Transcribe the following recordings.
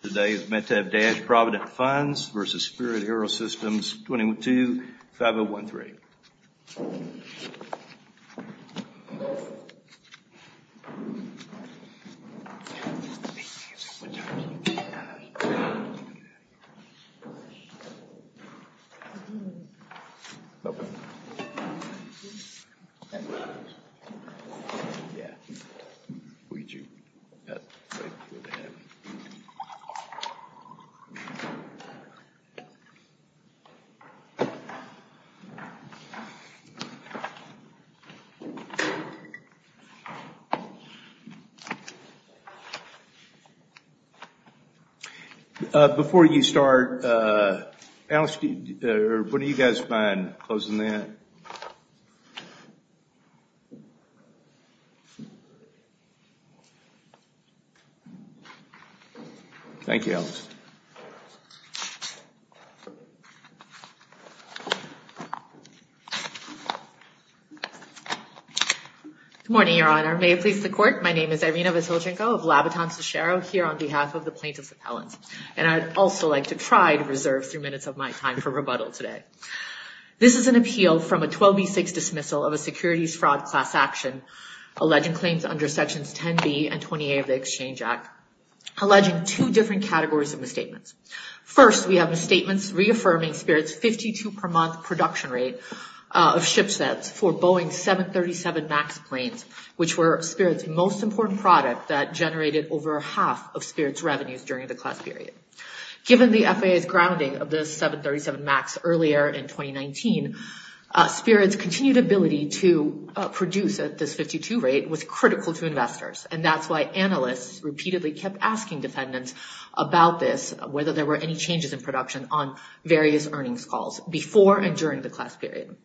Today is Meitav Dash Provident Funds v. Spirit AeroSystems 22-5013. Before you start, what do you guys find, closing that? Good morning, Your Honor. May it please the Court, my name is Irina Vasilchenko of Labatton-Sushero here on behalf of the plaintiffs' appellants, and I'd also like to try to reserve three minutes of my time for rebuttal today. This is an appeal from a 12B6 dismissal of a securities fraud class action alleging claims under Sections 10B and 28 of the Exchange Act, alleging two different categories of misstatements. First, we have misstatements reaffirming Spirit's 52-per-month production rate of ship sets for Boeing's 737 MAX planes, which were Spirit's most important product that generated over half of Spirit's revenues during the class period. Given the FAA's grounding of the 737 MAX earlier in 2019, Spirit's continued ability to produce at this 52 rate was critical to investors, and that's why analysts repeatedly kept asking defendants about this, whether there were any changes in production on various earnings calls before and during the class period.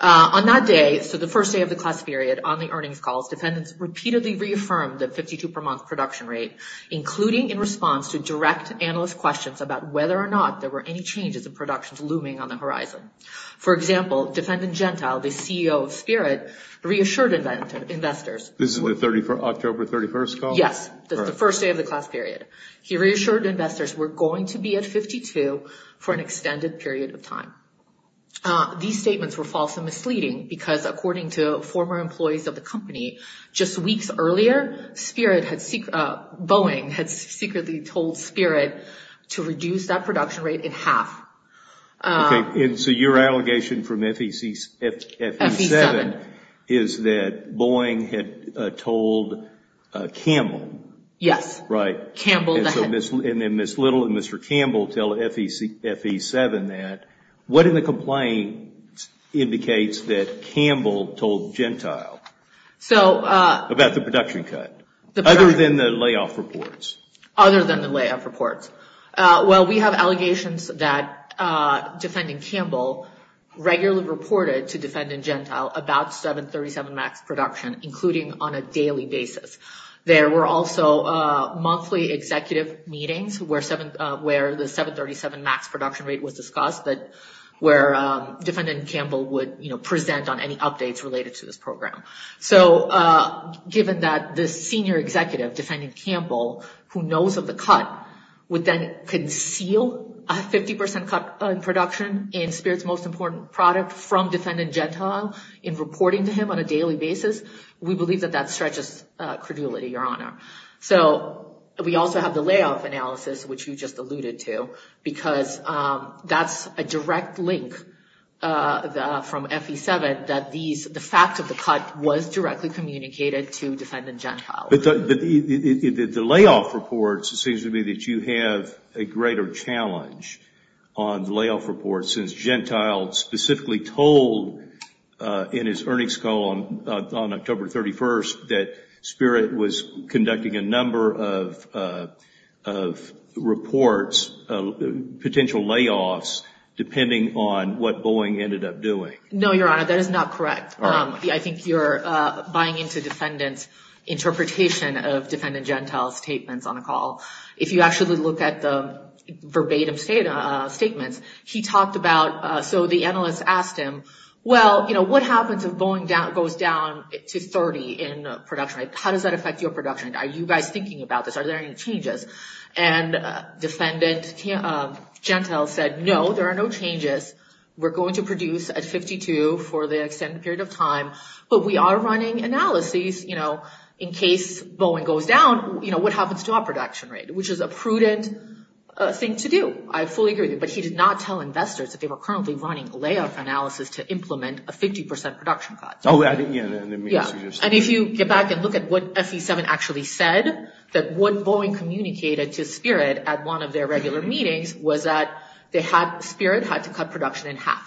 On that day, so the first day of the class period, on the earnings calls, defendants repeatedly reaffirmed the 52-per-month production rate, including in response to direct analyst questions about whether or not there were any changes in production looming on the horizon. For example, defendant Gentile, the CEO of Spirit, reassured investors... This is the October 31st call? Yes, the first day of the class period. He reassured investors we're going to be at 52 for an extended period of time. These statements were false and misleading, because according to former employees of the company, just weeks earlier, Boeing had secretly told Spirit to reduce that production rate in half. Okay, and so your allegation from FE7 is that Boeing had told Campbell. Yes. Right. Ms. Little and Mr. Campbell tell FE7 that. What in the complaint indicates that Campbell told Gentile about the production cut, other than the layoff reports? Other than the layoff reports. Well, we have allegations that defendant Campbell regularly reported to defendant Gentile about 737 MAX production, including on a daily basis. There were also monthly executive meetings where the 737 MAX production rate was discussed, where defendant Campbell would present on any updates related to this program. So given that the senior executive, defendant Campbell, who knows of the cut, would then conceal a 50% cut in production in Spirit's most important product from defendant Gentile in reporting to him on a daily basis, we believe that that stretches credulity, Your Honor. So we also have the layoff analysis, which you just alluded to, because that's a direct link from FE7, that the fact of the cut was directly communicated to defendant Gentile. But the layoff reports, it seems to me that you have a greater challenge on the layoff reports, since Gentile specifically told in his earnings call on October 31st that Spirit was conducting a number of reports, potential layoffs, depending on what Boeing ended up doing. No, Your Honor, that is not correct. I think you're buying into defendant's interpretation of defendant Gentile's statements on the call. If you actually look at the verbatim statements, he talked about, so the analyst asked him, well, you know, what happens if Boeing goes down to 30 in production? How does that affect your production? Are you guys thinking about this? Are there any changes? And defendant Gentile said, no, there are no changes. We're going to produce at 52 for the extended period of time. But we are running analyses, you know, in case Boeing goes down, you know, what happens to our production rate, which is a prudent thing to do. I fully agree with you. But he did not tell investors that they were currently running a layoff analysis to implement a 50% production cut. Oh, yeah. And if you get back and look at what FE7 actually said, that what Boeing communicated to Spirit at one of their regular meetings was that Spirit had to cut production in half.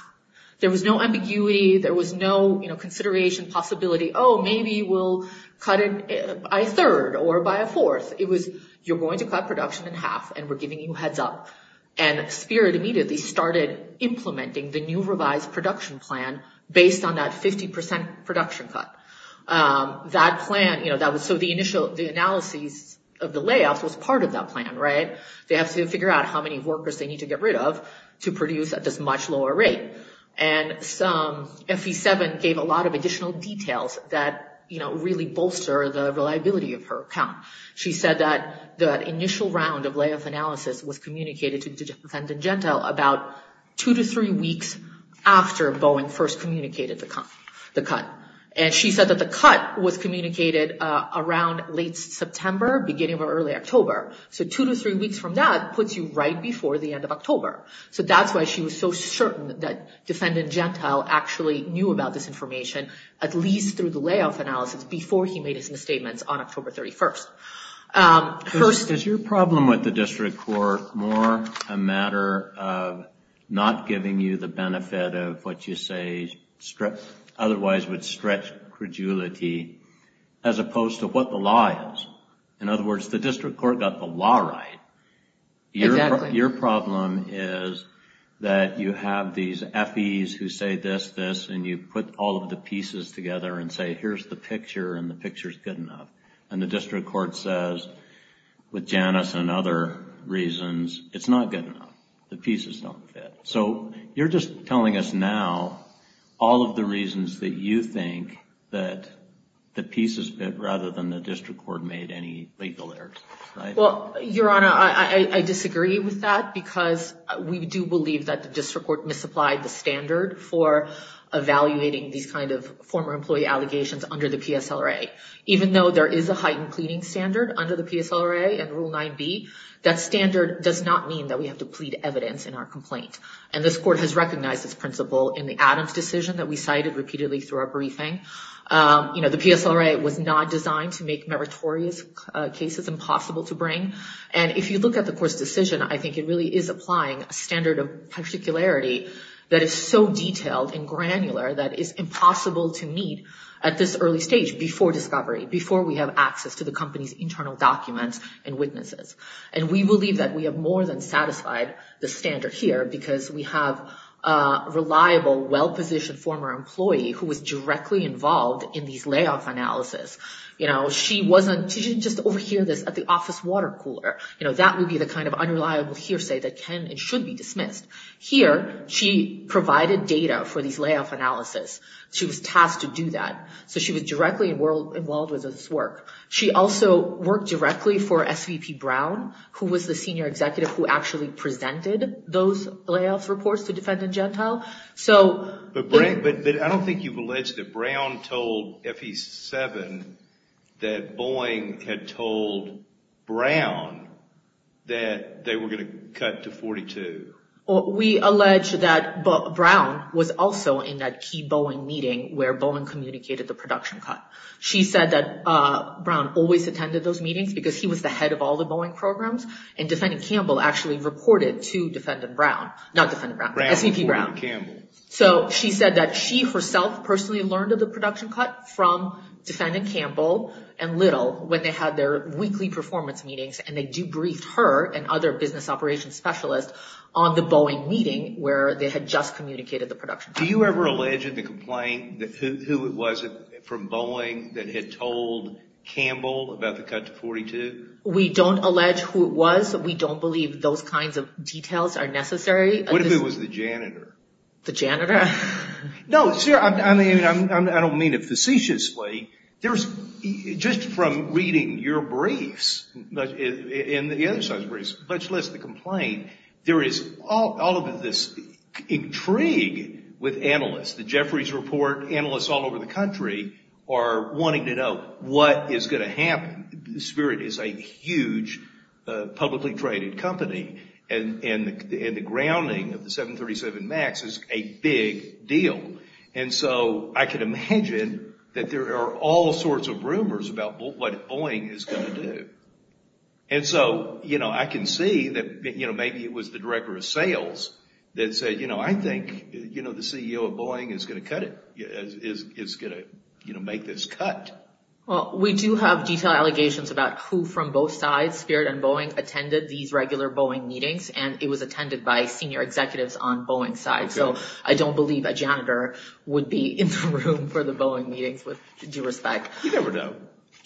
There was no ambiguity. There was no, you know, consideration, possibility, oh, maybe we'll cut it by a third or by a fourth. It was, you're going to cut production in half, and we're giving you a heads up. And Spirit immediately started implementing the new revised production plan based on that 50% production cut. That plan, you know, so the analyses of the layoffs was part of that plan, right? They have to figure out how many workers they need to get rid of to produce at this much lower rate. And FE7 gave a lot of additional details that, you know, really bolster the reliability of her account. She said that the initial round of layoff analysis was communicated to Defendant Gentile about two to three weeks after Boeing first communicated the cut. And she said that the cut was communicated around late September, beginning of early October. So two to three weeks from that puts you right before the end of October. So that's why she was so certain that Defendant Gentile actually knew about this information, at least through the layoff analysis, before he made his misstatements on October 31st. Does your problem with the district court more a matter of not giving you the benefit of what you say otherwise would stretch credulity, as opposed to what the law is? In other words, the district court got the law right. Exactly. Your problem is that you have these FEs who say this, this, and you put all of the pieces together and say, here's the picture and the picture's good enough. And the district court says, with Janice and other reasons, it's not good enough. The pieces don't fit. So you're just telling us now all of the reasons that you think that the pieces fit rather than the district court made any legal errors, right? Well, Your Honor, I disagree with that because we do believe that the district court misapplied the standard for evaluating these kind of former employee allegations under the PSLRA. Even though there is a heightened pleading standard under the PSLRA and Rule 9b, that standard does not mean that we have to plead evidence in our complaint. And this court has recognized this principle in the Adams decision that we cited repeatedly through our briefing. You know, the PSLRA was not designed to make meritorious cases impossible to bring. And if you look at the court's decision, I think it really is applying a standard of particularity that is so detailed and granular that it's impossible to meet at this early stage before discovery, before we have access to the company's internal documents and witnesses. And we believe that we have more than satisfied the standard here because we have a reliable, well-positioned former employee who was directly involved in these layoff analysis. You know, she wasn't – she didn't just overhear this at the office water cooler. You know, that would be the kind of unreliable hearsay that can and should be dismissed. Here, she provided data for these layoff analysis. She was tasked to do that. So she was directly involved with this work. She also worked directly for SVP Brown, who was the senior executive who actually presented those layoff reports to defendant Gentile. But I don't think you've alleged that Brown told FE7 that Boeing had told Brown that they were going to cut to 42. We allege that Brown was also in that key Boeing meeting where Boeing communicated the production cut. She said that Brown always attended those meetings because he was the head of all the Boeing programs. And defendant Campbell actually reported to defendant Brown – not defendant Brown, SVP Brown. Brown reported to Campbell. So she said that she herself personally learned of the production cut from defendant Campbell and Little when they had their weekly performance meetings, and they debriefed her and other business operations specialists on the Boeing meeting where they had just communicated the production cut. Do you ever allege in the complaint who it was from Boeing that had told Campbell about the cut to 42? We don't allege who it was. We don't believe those kinds of details are necessary. What if it was the janitor? The janitor? No, I don't mean it facetiously. Just from reading your briefs and the other side's briefs, much less the complaint, there is all of this intrigue with analysts. The Jeffries Report analysts all over the country are wanting to know what is going to happen. Spirit is a huge publicly traded company, and the grounding of the 737 MAX is a big deal. And so I can imagine that there are all sorts of rumors about what Boeing is going to do. And so I can see that maybe it was the director of sales that said, I think the CEO of Boeing is going to cut it, is going to make this cut. Well, we do have detailed allegations about who from both sides, Spirit and Boeing, attended these regular Boeing meetings, and it was attended by senior executives on Boeing's side. So I don't believe a janitor would be in the room for the Boeing meetings, with due respect. You never know.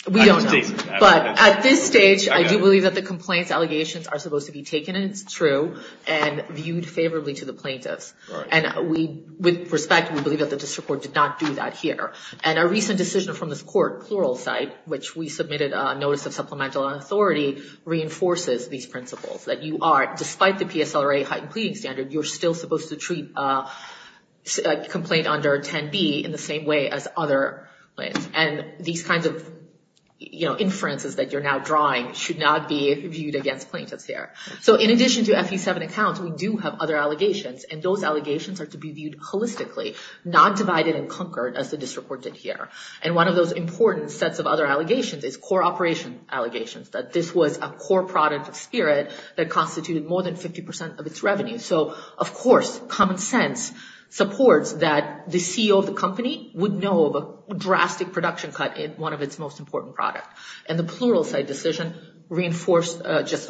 We don't know. But at this stage, I do believe that the complaints allegations are supposed to be taken as true and viewed favorably to the plaintiffs. And with respect, we believe that the district court did not do that here. And a recent decision from this court, Pluralsight, which we submitted a notice of supplemental authority, reinforces these principles, that you are, despite the PSLRA heightened pleading standard, you're still supposed to treat a complaint under 10B in the same way as other claims. And these kinds of inferences that you're now drawing should not be viewed against plaintiffs here. So in addition to FE7 accounts, we do have other allegations, and those allegations are to be viewed holistically, not divided and conquered, as the district court did here. And one of those important sets of other allegations is core operation allegations, that this was a core product of Spirit that constituted more than 50% of its revenue. So, of course, common sense supports that the CEO of the company would know of a drastic production cut in one of its most important products. And the Pluralsight decision reinforced, just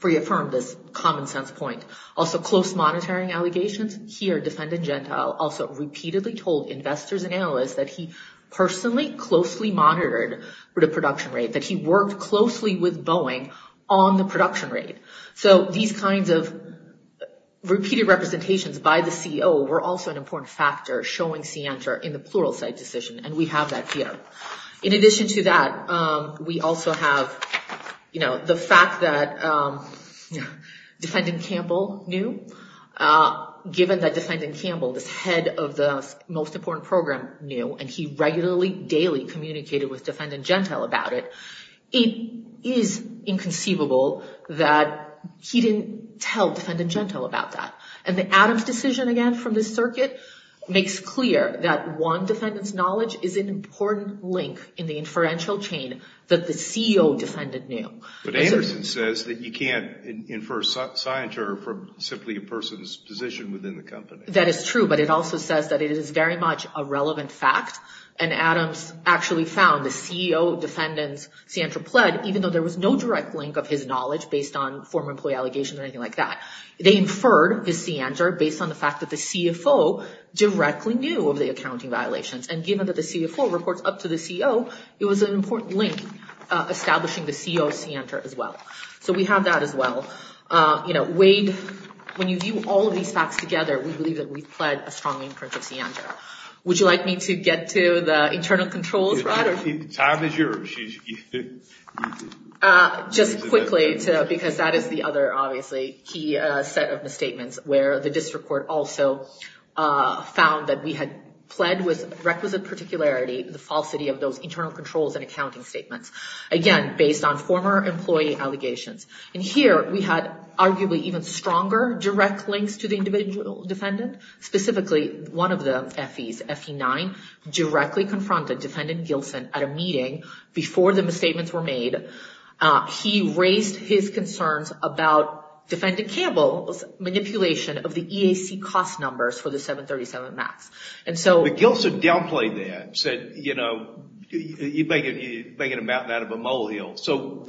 reaffirmed this common sense point. Also, close monitoring allegations. Here, Defendant Gentile also repeatedly told investors and analysts that he personally closely monitored the production rate, that he worked closely with Boeing on the production rate. So these kinds of repeated representations by the CEO were also an important factor, showing scienter in the Pluralsight decision, and we have that here. In addition to that, we also have, you know, the fact that Defendant Campbell knew. Given that Defendant Campbell, the head of the most important program, knew, and he regularly, daily communicated with Defendant Gentile about it, it is inconceivable that he didn't tell Defendant Gentile about that. And the Adams decision again from this circuit makes clear that one defendant's knowledge is an important link in the inferential chain that the CEO defendant knew. But Anderson says that you can't infer scienter from simply a person's position within the company. That is true, but it also says that it is very much a relevant fact, and Adams actually found the CEO defendant's scienter pled, even though there was no direct link of his knowledge based on former employee allegations or anything like that. They inferred his scienter based on the fact that the CFO directly knew of the accounting violations, and given that the CFO reports up to the CEO, it was an important link establishing the CEO's scienter as well. So we have that as well. You know, Wade, when you view all of these facts together, we believe that we've pled a strong inference of scienter. Would you like me to get to the internal controls, Brad? Time is yours. Just quickly, because that is the other obviously key set of statements, where the district court also found that we had pled with requisite particularity the falsity of those internal controls and accounting statements. Again, based on former employee allegations. And here we had arguably even stronger direct links to the individual defendant. Specifically, one of the FEs, FE9, directly confronted defendant Gilson at a meeting before the misstatements were made. He raised his concerns about defendant Campbell's manipulation of the EAC cost numbers for the 737 MAX. But Gilson downplayed that, said, you know, you're making a mountain out of a molehill. So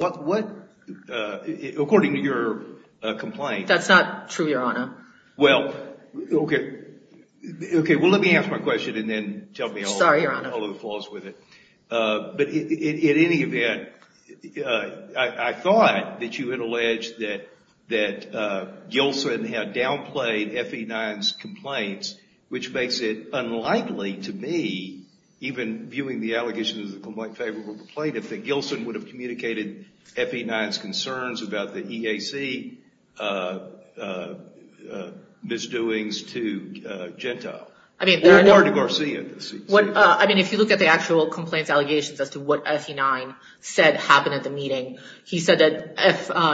according to your complaint... That's not true, Your Honor. Well, okay. Okay, well, let me ask my question and then tell me all of the flaws with it. Sorry, Your Honor. But in any event, I thought that you had alleged that Gilson had downplayed FE9's complaints, which makes it unlikely to me, even viewing the allegations of the complaint favorable to the plaintiff, that Gilson would have communicated FE9's concerns about the EAC misdoings to Gentile. Or to Garcia. I mean, if you look at the actual complaints allegations as to what FE9 said happened at the meeting, he said that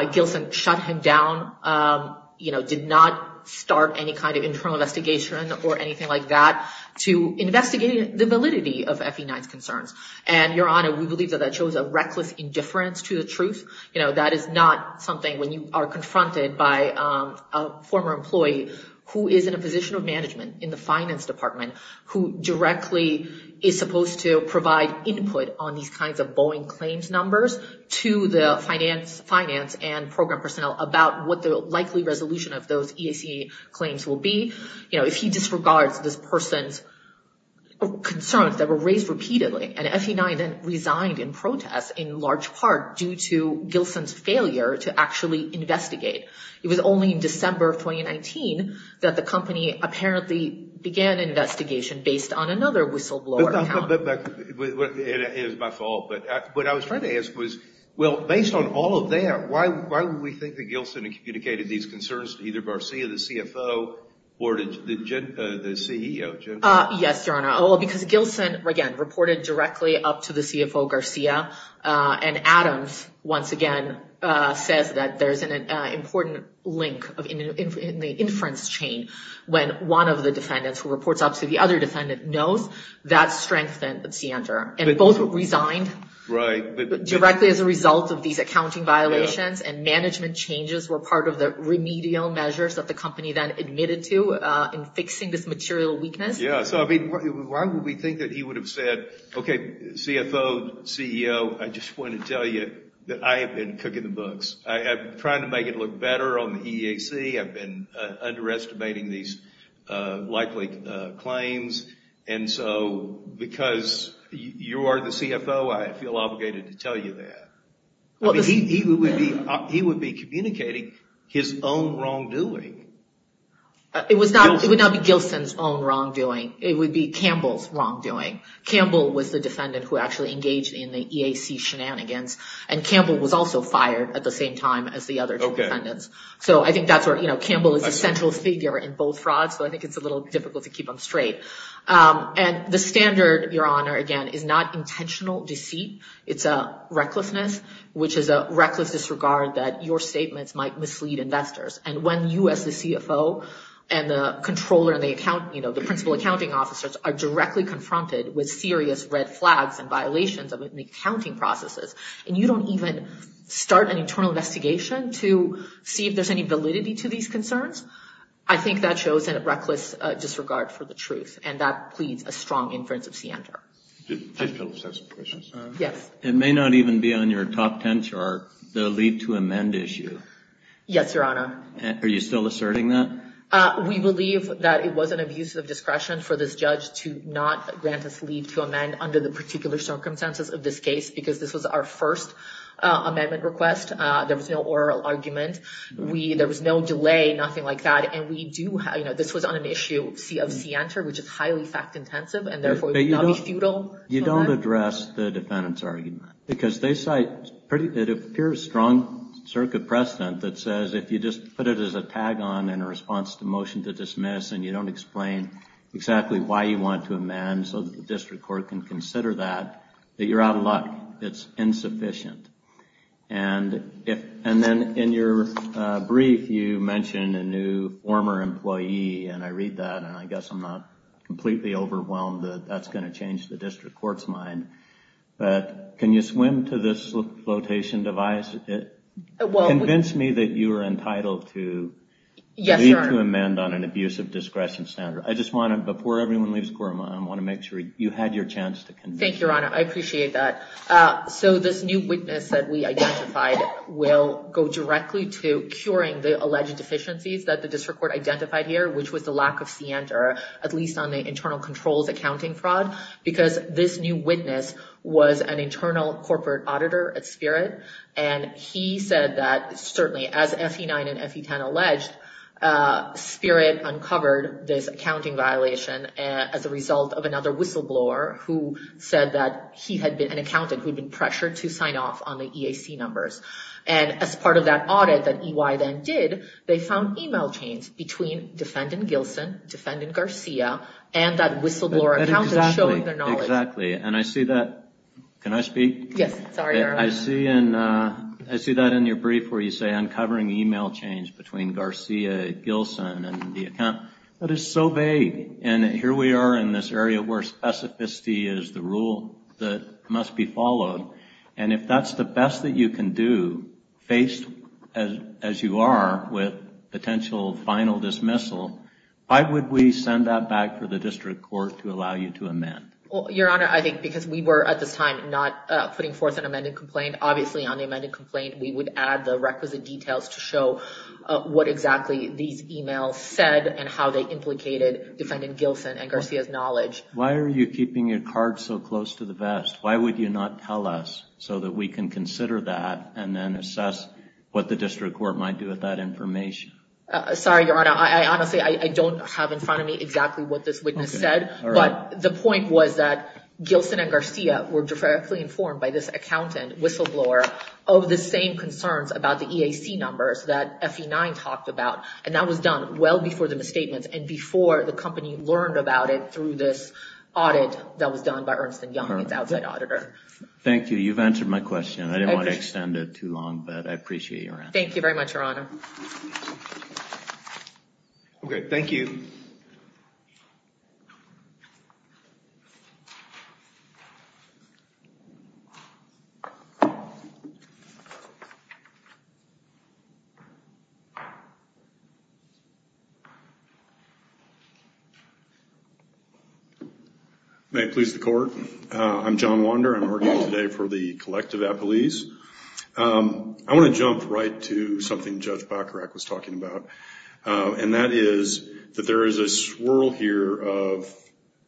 if Gilson shut him down, you know, did not start any kind of internal investigation or anything like that And, Your Honor, we believe that that shows a reckless indifference to the truth. You know, that is not something when you are confronted by a former employee who is in a position of management in the finance department, who directly is supposed to provide input on these kinds of Boeing claims numbers to the finance and program personnel about what the likely resolution of those EAC claims will be. You know, if he disregards this person's concerns that were raised repeatedly. And FE9 then resigned in protest in large part due to Gilson's failure to actually investigate. It was only in December of 2019 that the company apparently began an investigation based on another whistleblower account. It is my fault. But what I was trying to ask was, well, based on all of that, why would we think that Gilson communicated these concerns to either Garcia, the CFO, or the CEO? Yes, Your Honor, because Gilson, again, reported directly up to the CFO Garcia. And Adams, once again, says that there is an important link in the inference chain when one of the defendants who reports up to the other defendant knows that strengthens the answer. And both resigned directly as a result of these accounting violations. And management changes were part of the remedial measures that the company then admitted to in fixing this material weakness. Yeah, so I mean, why would we think that he would have said, okay, CFO, CEO, I just want to tell you that I have been cooking the books. I'm trying to make it look better on the EAC. I've been underestimating these likely claims. And so because you are the CFO, I feel obligated to tell you that. He would be communicating his own wrongdoing. It would not be Gilson's own wrongdoing. It would be Campbell's wrongdoing. Campbell was the defendant who actually engaged in the EAC shenanigans. And Campbell was also fired at the same time as the other two defendants. So I think that's where, you know, Campbell is a central figure in both frauds. So I think it's a little difficult to keep him straight. And the standard, Your Honor, again, is not intentional deceit. It's a recklessness, which is a reckless disregard that your statements might mislead investors. And when you as the CFO and the controller and the principal accounting officers are directly confronted with serious red flags and violations of the accounting processes, and you don't even start an internal investigation to see if there's any validity to these concerns, I think that shows a reckless disregard for the truth. And that pleads a strong inference of scienter. Yes. It may not even be on your top ten chart, the leave to amend issue. Yes, Your Honor. Are you still asserting that? We believe that it was an abuse of discretion for this judge to not grant us leave to amend under the particular circumstances of this case, because this was our first amendment request. There was no oral argument. There was no delay, nothing like that. And this was on an issue of scienter, which is highly fact-intensive, and therefore would not be futile. You don't address the defendant's argument. Because they cite, it appears, strong circuit precedent that says if you just put it as a tag-on in a response to motion to dismiss and you don't explain exactly why you want to amend so that the district court can consider that, that you're out of luck. It's insufficient. And then in your brief, you mention a new former employee, and I read that, and I guess I'm not completely overwhelmed that that's going to change the district court's mind. But can you swim to this flotation device? Convince me that you are entitled to leave to amend on an abuse of discretion standard. I just want to, before everyone leaves court, I want to make sure you had your chance to convince me. Thank you, Your Honor. I appreciate that. So this new witness that we identified will go directly to curing the alleged deficiencies that the district court identified here, which was the lack of scienter, at least on the internal controls accounting fraud. Because this new witness was an internal corporate auditor at Spirit, and he said that certainly as FE9 and FE10 alleged, Spirit uncovered this accounting violation as a result of another whistleblower who said that he had been an accountant who had been pressured to sign off on the EAC numbers. And as part of that audit that EY then did, they found email chains between defendant Gilson, defendant Garcia, and that whistleblower accountant showing their knowledge. Exactly. And I see that. Can I speak? Yes. Sorry, Your Honor. I see that in your brief where you say uncovering email chains between Garcia, Gilson, and the account. That is so vague. And here we are in this area where specificity is the rule that must be followed. And if that's the best that you can do, faced as you are with potential final dismissal, why would we send that back for the district court to allow you to amend? Well, Your Honor, I think because we were at this time not putting forth an amended complaint, we would add the requisite details to show what exactly these emails said and how they implicated defendant Gilson and Garcia's knowledge. Why are you keeping your card so close to the vest? Why would you not tell us so that we can consider that and then assess what the district court might do with that information? Sorry, Your Honor. Honestly, I don't have in front of me exactly what this witness said. But the point was that Gilson and Garcia were directly informed by this accountant, whistleblower, of the same concerns about the EAC numbers that FE9 talked about. And that was done well before the misstatements and before the company learned about it through this audit that was done by Ernst and Young, the outside auditor. Thank you. You've answered my question. I didn't want to extend it too long, but I appreciate your answer. Thank you very much, Your Honor. Okay. Thank you. May it please the court, I'm John Wander. I'm working today for the Collective Appellees. I want to jump right to something Judge Bacharach was talking about, and that is that there is a swirl here of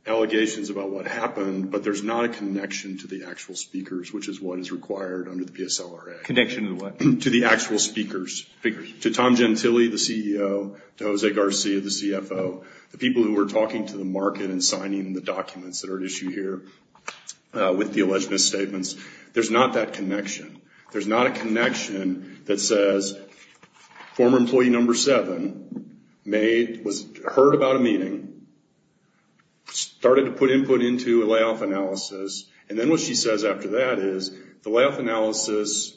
allegations about what happened, but there's not a connection to the actual speakers, which is what is required under the PSLRA. Connection to what? To the actual speakers. Speakers. To Tom Gentile, the CEO, to Jose Garcia, the CFO, the people who were talking to the market and signing the documents that are at issue here with the alleged misstatements. There's not that connection. There's not a connection that says former employee number seven was heard about a meeting, started to put input into a layoff analysis, and then what she says after that is the layoff analysis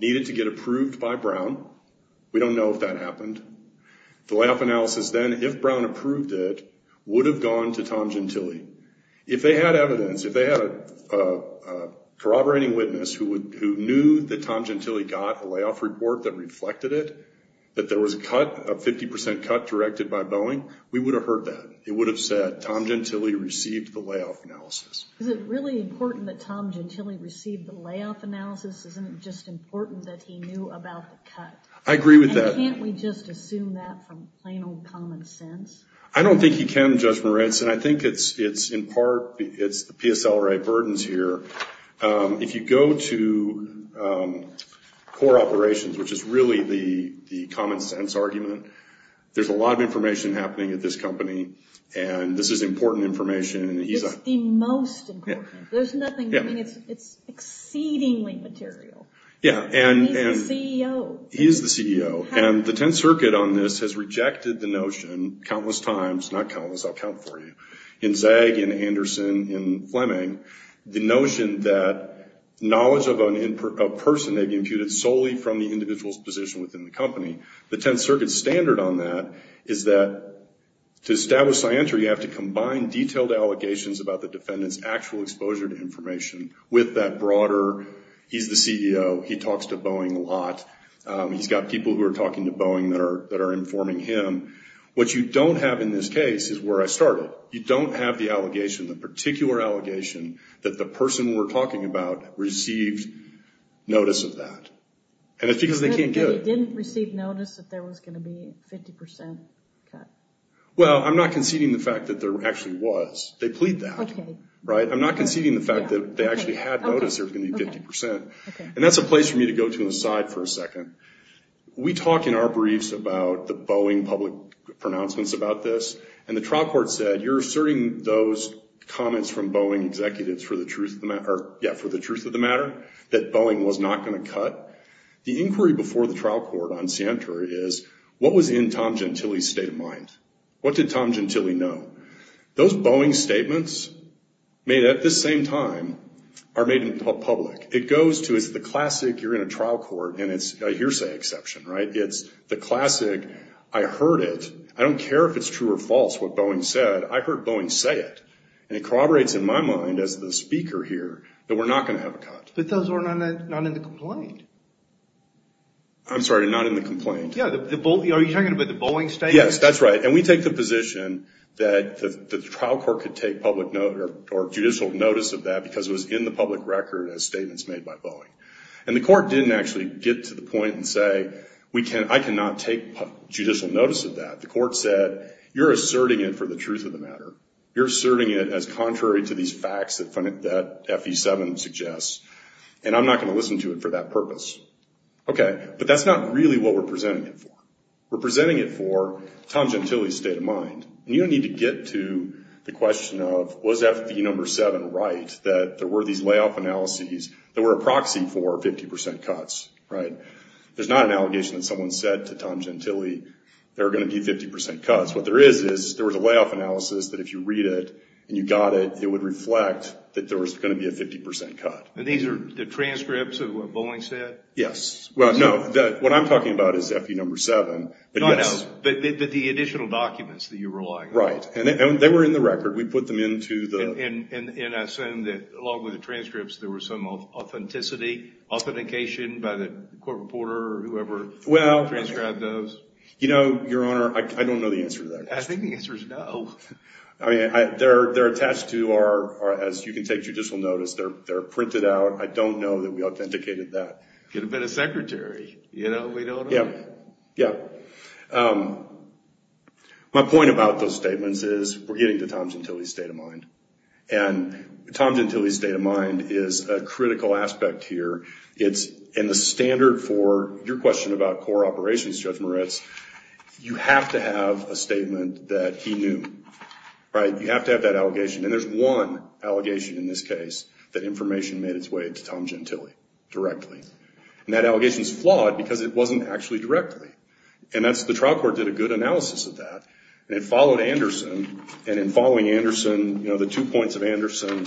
needed to get approved by Brown. We don't know if that happened. The layoff analysis then, if Brown approved it, would have gone to Tom Gentile. If they had evidence, if they had a corroborating witness who knew that Tom Gentile got a layoff report that reflected it, that there was a cut, a 50% cut directed by Boeing, we would have heard that. It would have said Tom Gentile received the layoff analysis. Is it really important that Tom Gentile received the layoff analysis? Isn't it just important that he knew about the cut? I agree with that. Can't we just assume that from plain old common sense? I don't think you can, Judge Moritz, and I think it's in part the PSLA burdens here. If you go to core operations, which is really the common sense argument, there's a lot of information happening at this company, and this is important information. It's the most important. There's nothing. I mean, it's exceedingly material. And he's the CEO. He is the CEO. And the Tenth Circuit on this has rejected the notion countless times, not countless, I'll count for you, in Zagg, in Anderson, in Fleming, the notion that knowledge of a person may be imputed solely from the individual's position within the company. The Tenth Circuit's standard on that is that to establish scientry, you have to combine detailed allegations about the defendant's actual exposure to information with that broader, He's got people who are talking to Boeing that are informing him. What you don't have in this case is where I started. You don't have the allegation, the particular allegation, that the person we're talking about received notice of that. And it's because they can't get it. But he didn't receive notice that there was going to be a 50% cut. Well, I'm not conceding the fact that there actually was. They plead that. Okay. Right? I'm not conceding the fact that they actually had notice there was going to be 50%. Okay. And that's a place for me to go to an aside for a second. We talk in our briefs about the Boeing public pronouncements about this. And the trial court said, you're asserting those comments from Boeing executives for the truth of the matter that Boeing was not going to cut. The inquiry before the trial court on scientry is, what was in Tom Gentile's state of mind? What did Tom Gentile know? Those Boeing statements made at this same time are made public. It goes to, it's the classic, you're in a trial court, and it's a hearsay exception. Right? It's the classic, I heard it. I don't care if it's true or false what Boeing said. I heard Boeing say it. And it corroborates in my mind as the speaker here that we're not going to have a cut. But those were not in the complaint. I'm sorry, not in the complaint. Yeah. Are you talking about the Boeing statement? Yes. That's right. And we take the position that the trial court could take public or judicial notice of that because it was in the public record as statements made by Boeing. And the court didn't actually get to the point and say, I cannot take judicial notice of that. The court said, you're asserting it for the truth of the matter. You're asserting it as contrary to these facts that FE7 suggests, and I'm not going to listen to it for that purpose. Okay. But that's not really what we're presenting it for. We're presenting it for Tom Gentile's state of mind. And you don't need to get to the question of was FE7 right, that there were these layoff analyses that were a proxy for 50% cuts, right? There's not an allegation that someone said to Tom Gentile there are going to be 50% cuts. What there is is there was a layoff analysis that if you read it and you got it, it would reflect that there was going to be a 50% cut. And these are the transcripts of what Boeing said? Yes. Well, no, what I'm talking about is FE7. No, no, but the additional documents that you're relying on. Right. And they were in the record. We put them into the – And I assume that along with the transcripts, there was some authenticity, authentication by the court reporter or whoever transcribed those? You know, Your Honor, I don't know the answer to that question. I think the answer is no. I mean, they're attached to our – as you can take judicial notice, they're printed out. I don't know that we authenticated that. Could have been a secretary, you know, we don't know. Yeah, yeah. My point about those statements is we're getting to Tom Gentile's state of mind. And Tom Gentile's state of mind is a critical aspect here. It's in the standard for your question about core operations, Judge Moritz, you have to have a statement that he knew, right? You have to have that allegation. And there's one allegation in this case that information made its way to Tom Gentile directly. And that allegation is flawed because it wasn't actually directly. And that's – the trial court did a good analysis of that. And it followed Anderson. And in following Anderson, you know, the two points of Anderson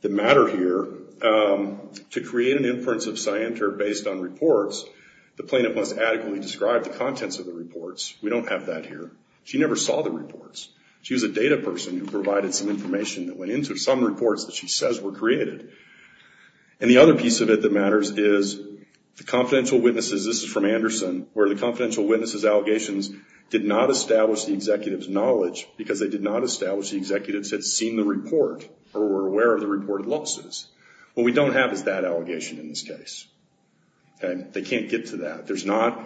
that matter here, to create an inference of scienter based on reports, the plaintiff must adequately describe the contents of the reports. We don't have that here. She never saw the reports. She was a data person who provided some information that went into some reports that she says were created. And the other piece of it that matters is the confidential witnesses, this is from Anderson, where the confidential witnesses allegations did not establish the executive's knowledge because they did not establish the executives had seen the report or were aware of the reported losses. What we don't have is that allegation in this case. They can't get to that. There's not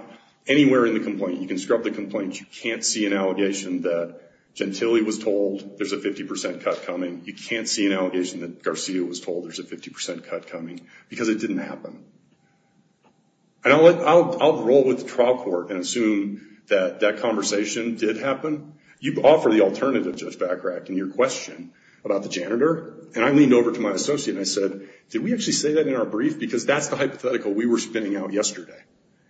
anywhere in the complaint, you can scrub the complaint, you can't see an allegation that Gentile was told there's a 50% cut coming. You can't see an allegation that Garcia was told there's a 50% cut coming because it didn't happen. And I'll roll with the trial court and assume that that conversation did happen. You offer the alternative, Judge Bachrach, in your question about the janitor. And I leaned over to my associate and I said, did we actually say that in our brief? Because that's the hypothetical we were spinning out yesterday.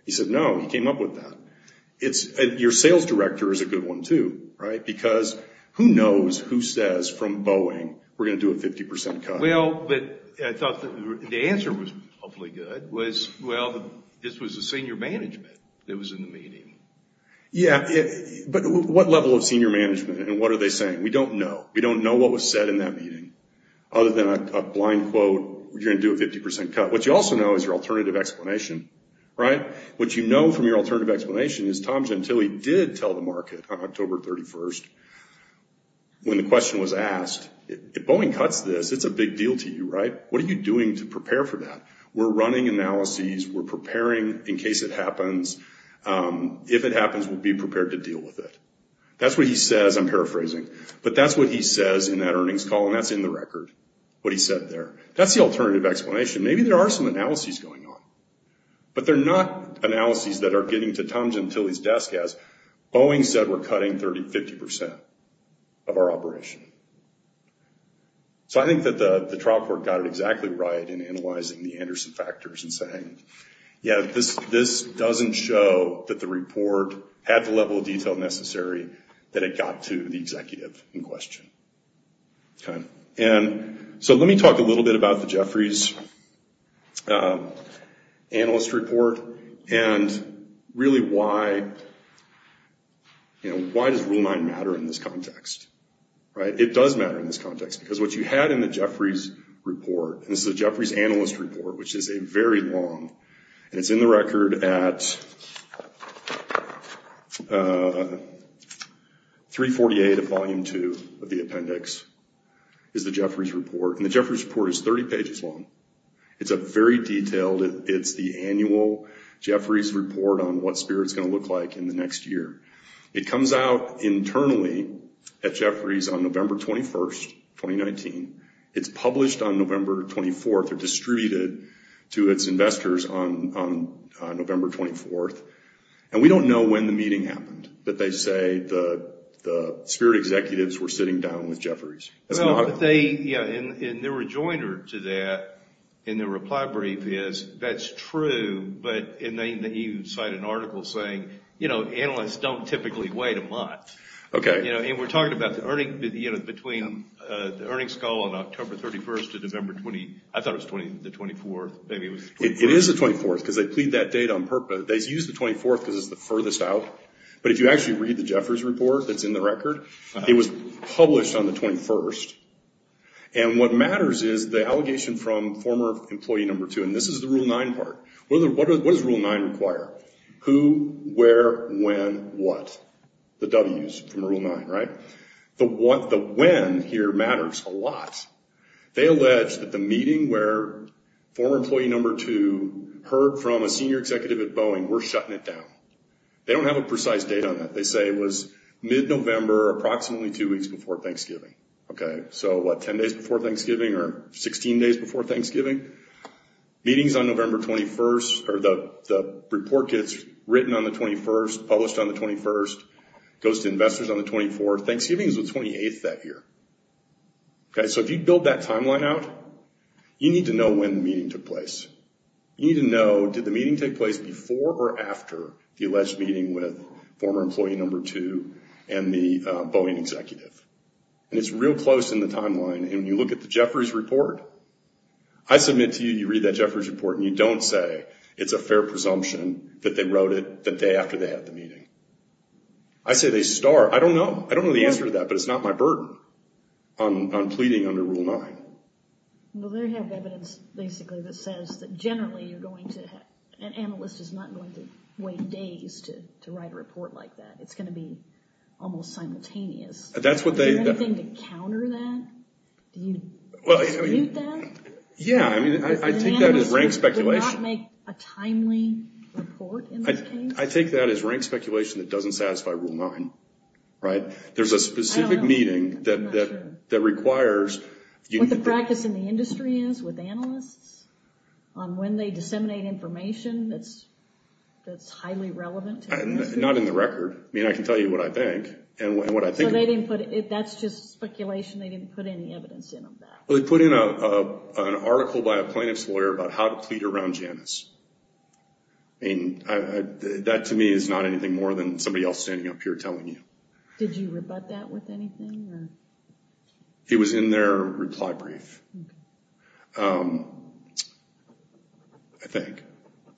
He said, no, he came up with that. Your sales director is a good one, too, right? Because who knows who says from Boeing we're going to do a 50% cut? Well, but I thought the answer was hopefully good, was, well, this was the senior management that was in the meeting. Yeah, but what level of senior management and what are they saying? We don't know. We don't know what was said in that meeting. Other than a blind quote, you're going to do a 50% cut. What you also know is your alternative explanation, right? What you know from your alternative explanation is Tom Gentile did tell the market on October 31st when the question was asked, if Boeing cuts this, it's a big deal to you, right? What are you doing to prepare for that? We're running analyses. We're preparing in case it happens. If it happens, we'll be prepared to deal with it. That's what he says. I'm paraphrasing. But that's what he says in that earnings call, and that's in the record, what he said there. That's the alternative explanation. Maybe there are some analyses going on, but they're not analyses that are getting to Tom Gentile's desk as Boeing said that we're cutting 50% of our operation. So I think that the trial court got it exactly right in analyzing the Anderson factors and saying, yeah, this doesn't show that the report had the level of detail necessary that it got to the executive in question. Okay. And so let me talk a little bit about the Jeffries Analyst Report and really why does Rule 9 matter in this context, right? It does matter in this context because what you had in the Jeffries Report, and this is the Jeffries Analyst Report, which is a very long, and it's in the record at 348 of Volume 2 of the appendix, is the Jeffries Report. And the Jeffries Report is 30 pages long. It's very detailed. It's the annual Jeffries Report on what Spirit's going to look like in the next year. It comes out internally at Jeffries on November 21, 2019. It's published on November 24 or distributed to its investors on November 24. And we don't know when the meeting happened, but they say the Spirit executives were sitting down with Jeffries. And their rejoinder to that in their reply brief is that's true, but you cite an article saying, you know, analysts don't typically wait a month. Okay. And we're talking about the earnings, you know, between the earnings call on October 31st to November 20th. I thought it was the 24th. It is the 24th because they plead that date on purpose. They use the 24th because it's the furthest out. But if you actually read the Jeffries Report that's in the record, it was published on the 21st. And what matters is the allegation from former employee number two, and this is the Rule 9 part. What does Rule 9 require? Who, where, when, what? The Ws from Rule 9, right? The when here matters a lot. They allege that the meeting where former employee number two heard from a senior executive at Boeing, we're shutting it down. They don't have a precise date on that. They say it was mid-November, approximately two weeks before Thanksgiving. Okay. So, what, 10 days before Thanksgiving or 16 days before Thanksgiving? Meetings on November 21st, or the report gets written on the 21st, goes published on the 21st, goes to investors on the 24th. Thanksgiving is the 28th that year. Okay. So, if you build that timeline out, you need to know when the meeting took place. You need to know, did the meeting take place before or after the alleged meeting with former employee number two and the Boeing executive? And it's real close in the timeline. And when you look at the Jeffries Report, I submit to you, you read that Jeffries Report and you don't say it's a fair presumption that they wrote it the day after they had the meeting. I say they start. I don't know. I don't know the answer to that, but it's not my burden on pleading under Rule 9. Well, they have evidence, basically, that says that generally an analyst is not going to wait days to write a report like that. It's going to be almost simultaneous. Is there anything to counter that? Do you dispute that? Yeah. I mean, I take that as rank speculation. Do you not make a timely report in this case? I take that as rank speculation that doesn't satisfy Rule 9. Right? There's a specific meeting that requires. What the practice in the industry is with analysts on when they disseminate information that's highly relevant. Not in the record. I mean, I can tell you what I think. So that's just speculation. They didn't put any evidence in on that. They put in an article by a plaintiff's lawyer about how to plead around Janice. I mean, that, to me, is not anything more than somebody else standing up here telling you. Did you rebut that with anything? It was in their reply brief. Okay. I think.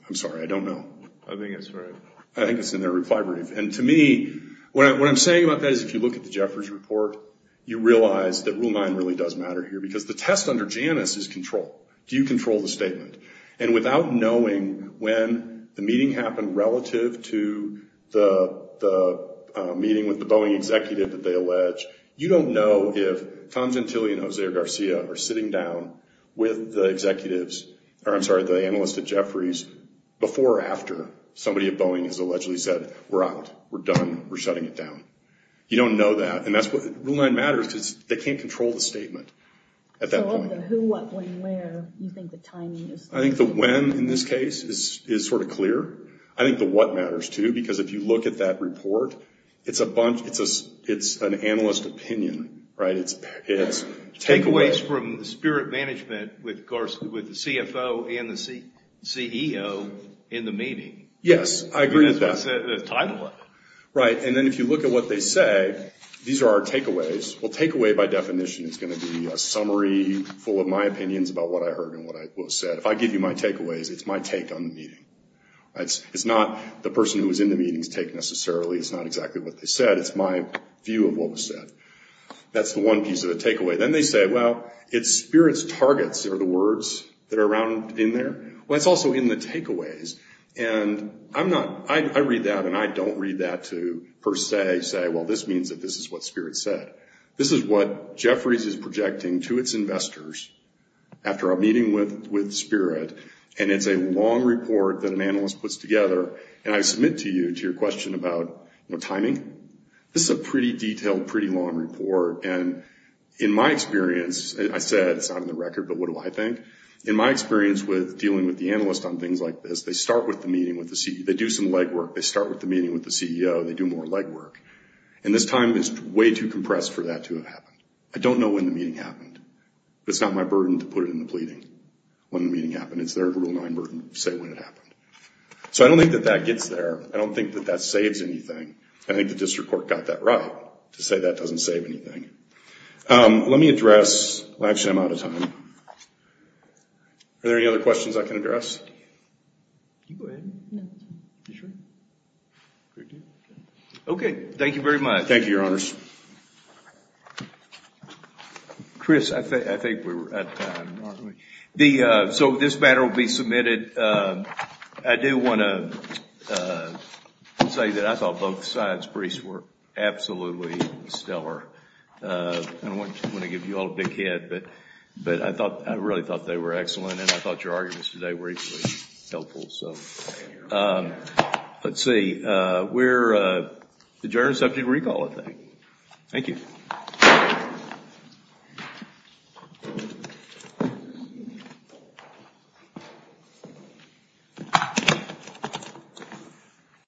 I'm sorry. I don't know. I think that's right. I think it's in their reply brief. And to me, what I'm saying about that is if you look at the Jeffers report, you realize that Rule 9 really does matter here. Because the test under Janice is control. Do you control the statement? And without knowing when the meeting happened relative to the meeting with the Boeing executive that they allege, you don't know if Tom Gentile and Jose Garcia are sitting down with the executives. Or, I'm sorry, the analysts at Jeffries before or after somebody at Boeing has allegedly said, we're out. We're done. We're shutting it down. You don't know that. And Rule 9 matters because they can't control the statement at that point. So of the who, what, when, where, you think the timing is? I think the when, in this case, is sort of clear. I think the what matters, too. Because if you look at that report, it's an analyst opinion. Right? It's takeaways from the spirit management with the CFO and the CEO in the meeting. Yes. I agree with that. That's the title of it. Right. And then if you look at what they say, these are our takeaways. Well, takeaway by definition is going to be a summary full of my opinions about what I heard and what was said. If I give you my takeaways, it's my take on the meeting. It's not the person who was in the meeting's take necessarily. It's not exactly what they said. It's my view of what was said. That's the one piece of the takeaway. Then they say, well, it's spirit's targets are the words that are around in there. Well, it's also in the takeaways. I read that and I don't read that to per se say, well, this means that this is what spirit said. This is what Jefferies is projecting to its investors after a meeting with spirit. And it's a long report that an analyst puts together. And I submit to you to your question about timing. This is a pretty detailed, pretty long report. And in my experience, I said it's not in the record, but what do I think? In my experience with dealing with the analyst on things like this, they start with the meeting with the CEO. They do some legwork. They start with the meeting with the CEO. They do more legwork. And this time is way too compressed for that to have happened. I don't know when the meeting happened. It's not my burden to put it in the pleading when the meeting happened. It's their Rule 9 burden to say when it happened. So I don't think that that gets there. I don't think that that saves anything. I think the district court got that right to say that doesn't save anything. Let me address. Actually, I'm out of time. Are there any other questions I can address? Okay. Thank you, Your Honors. So this matter will be submitted. I do want to say that I thought both sides were absolutely stellar. I don't want to give you all a big head. But I really thought they were excellent. And I thought your arguments today were equally helpful. So let's see. We're adjourned and subject to recall, I think. Thank you.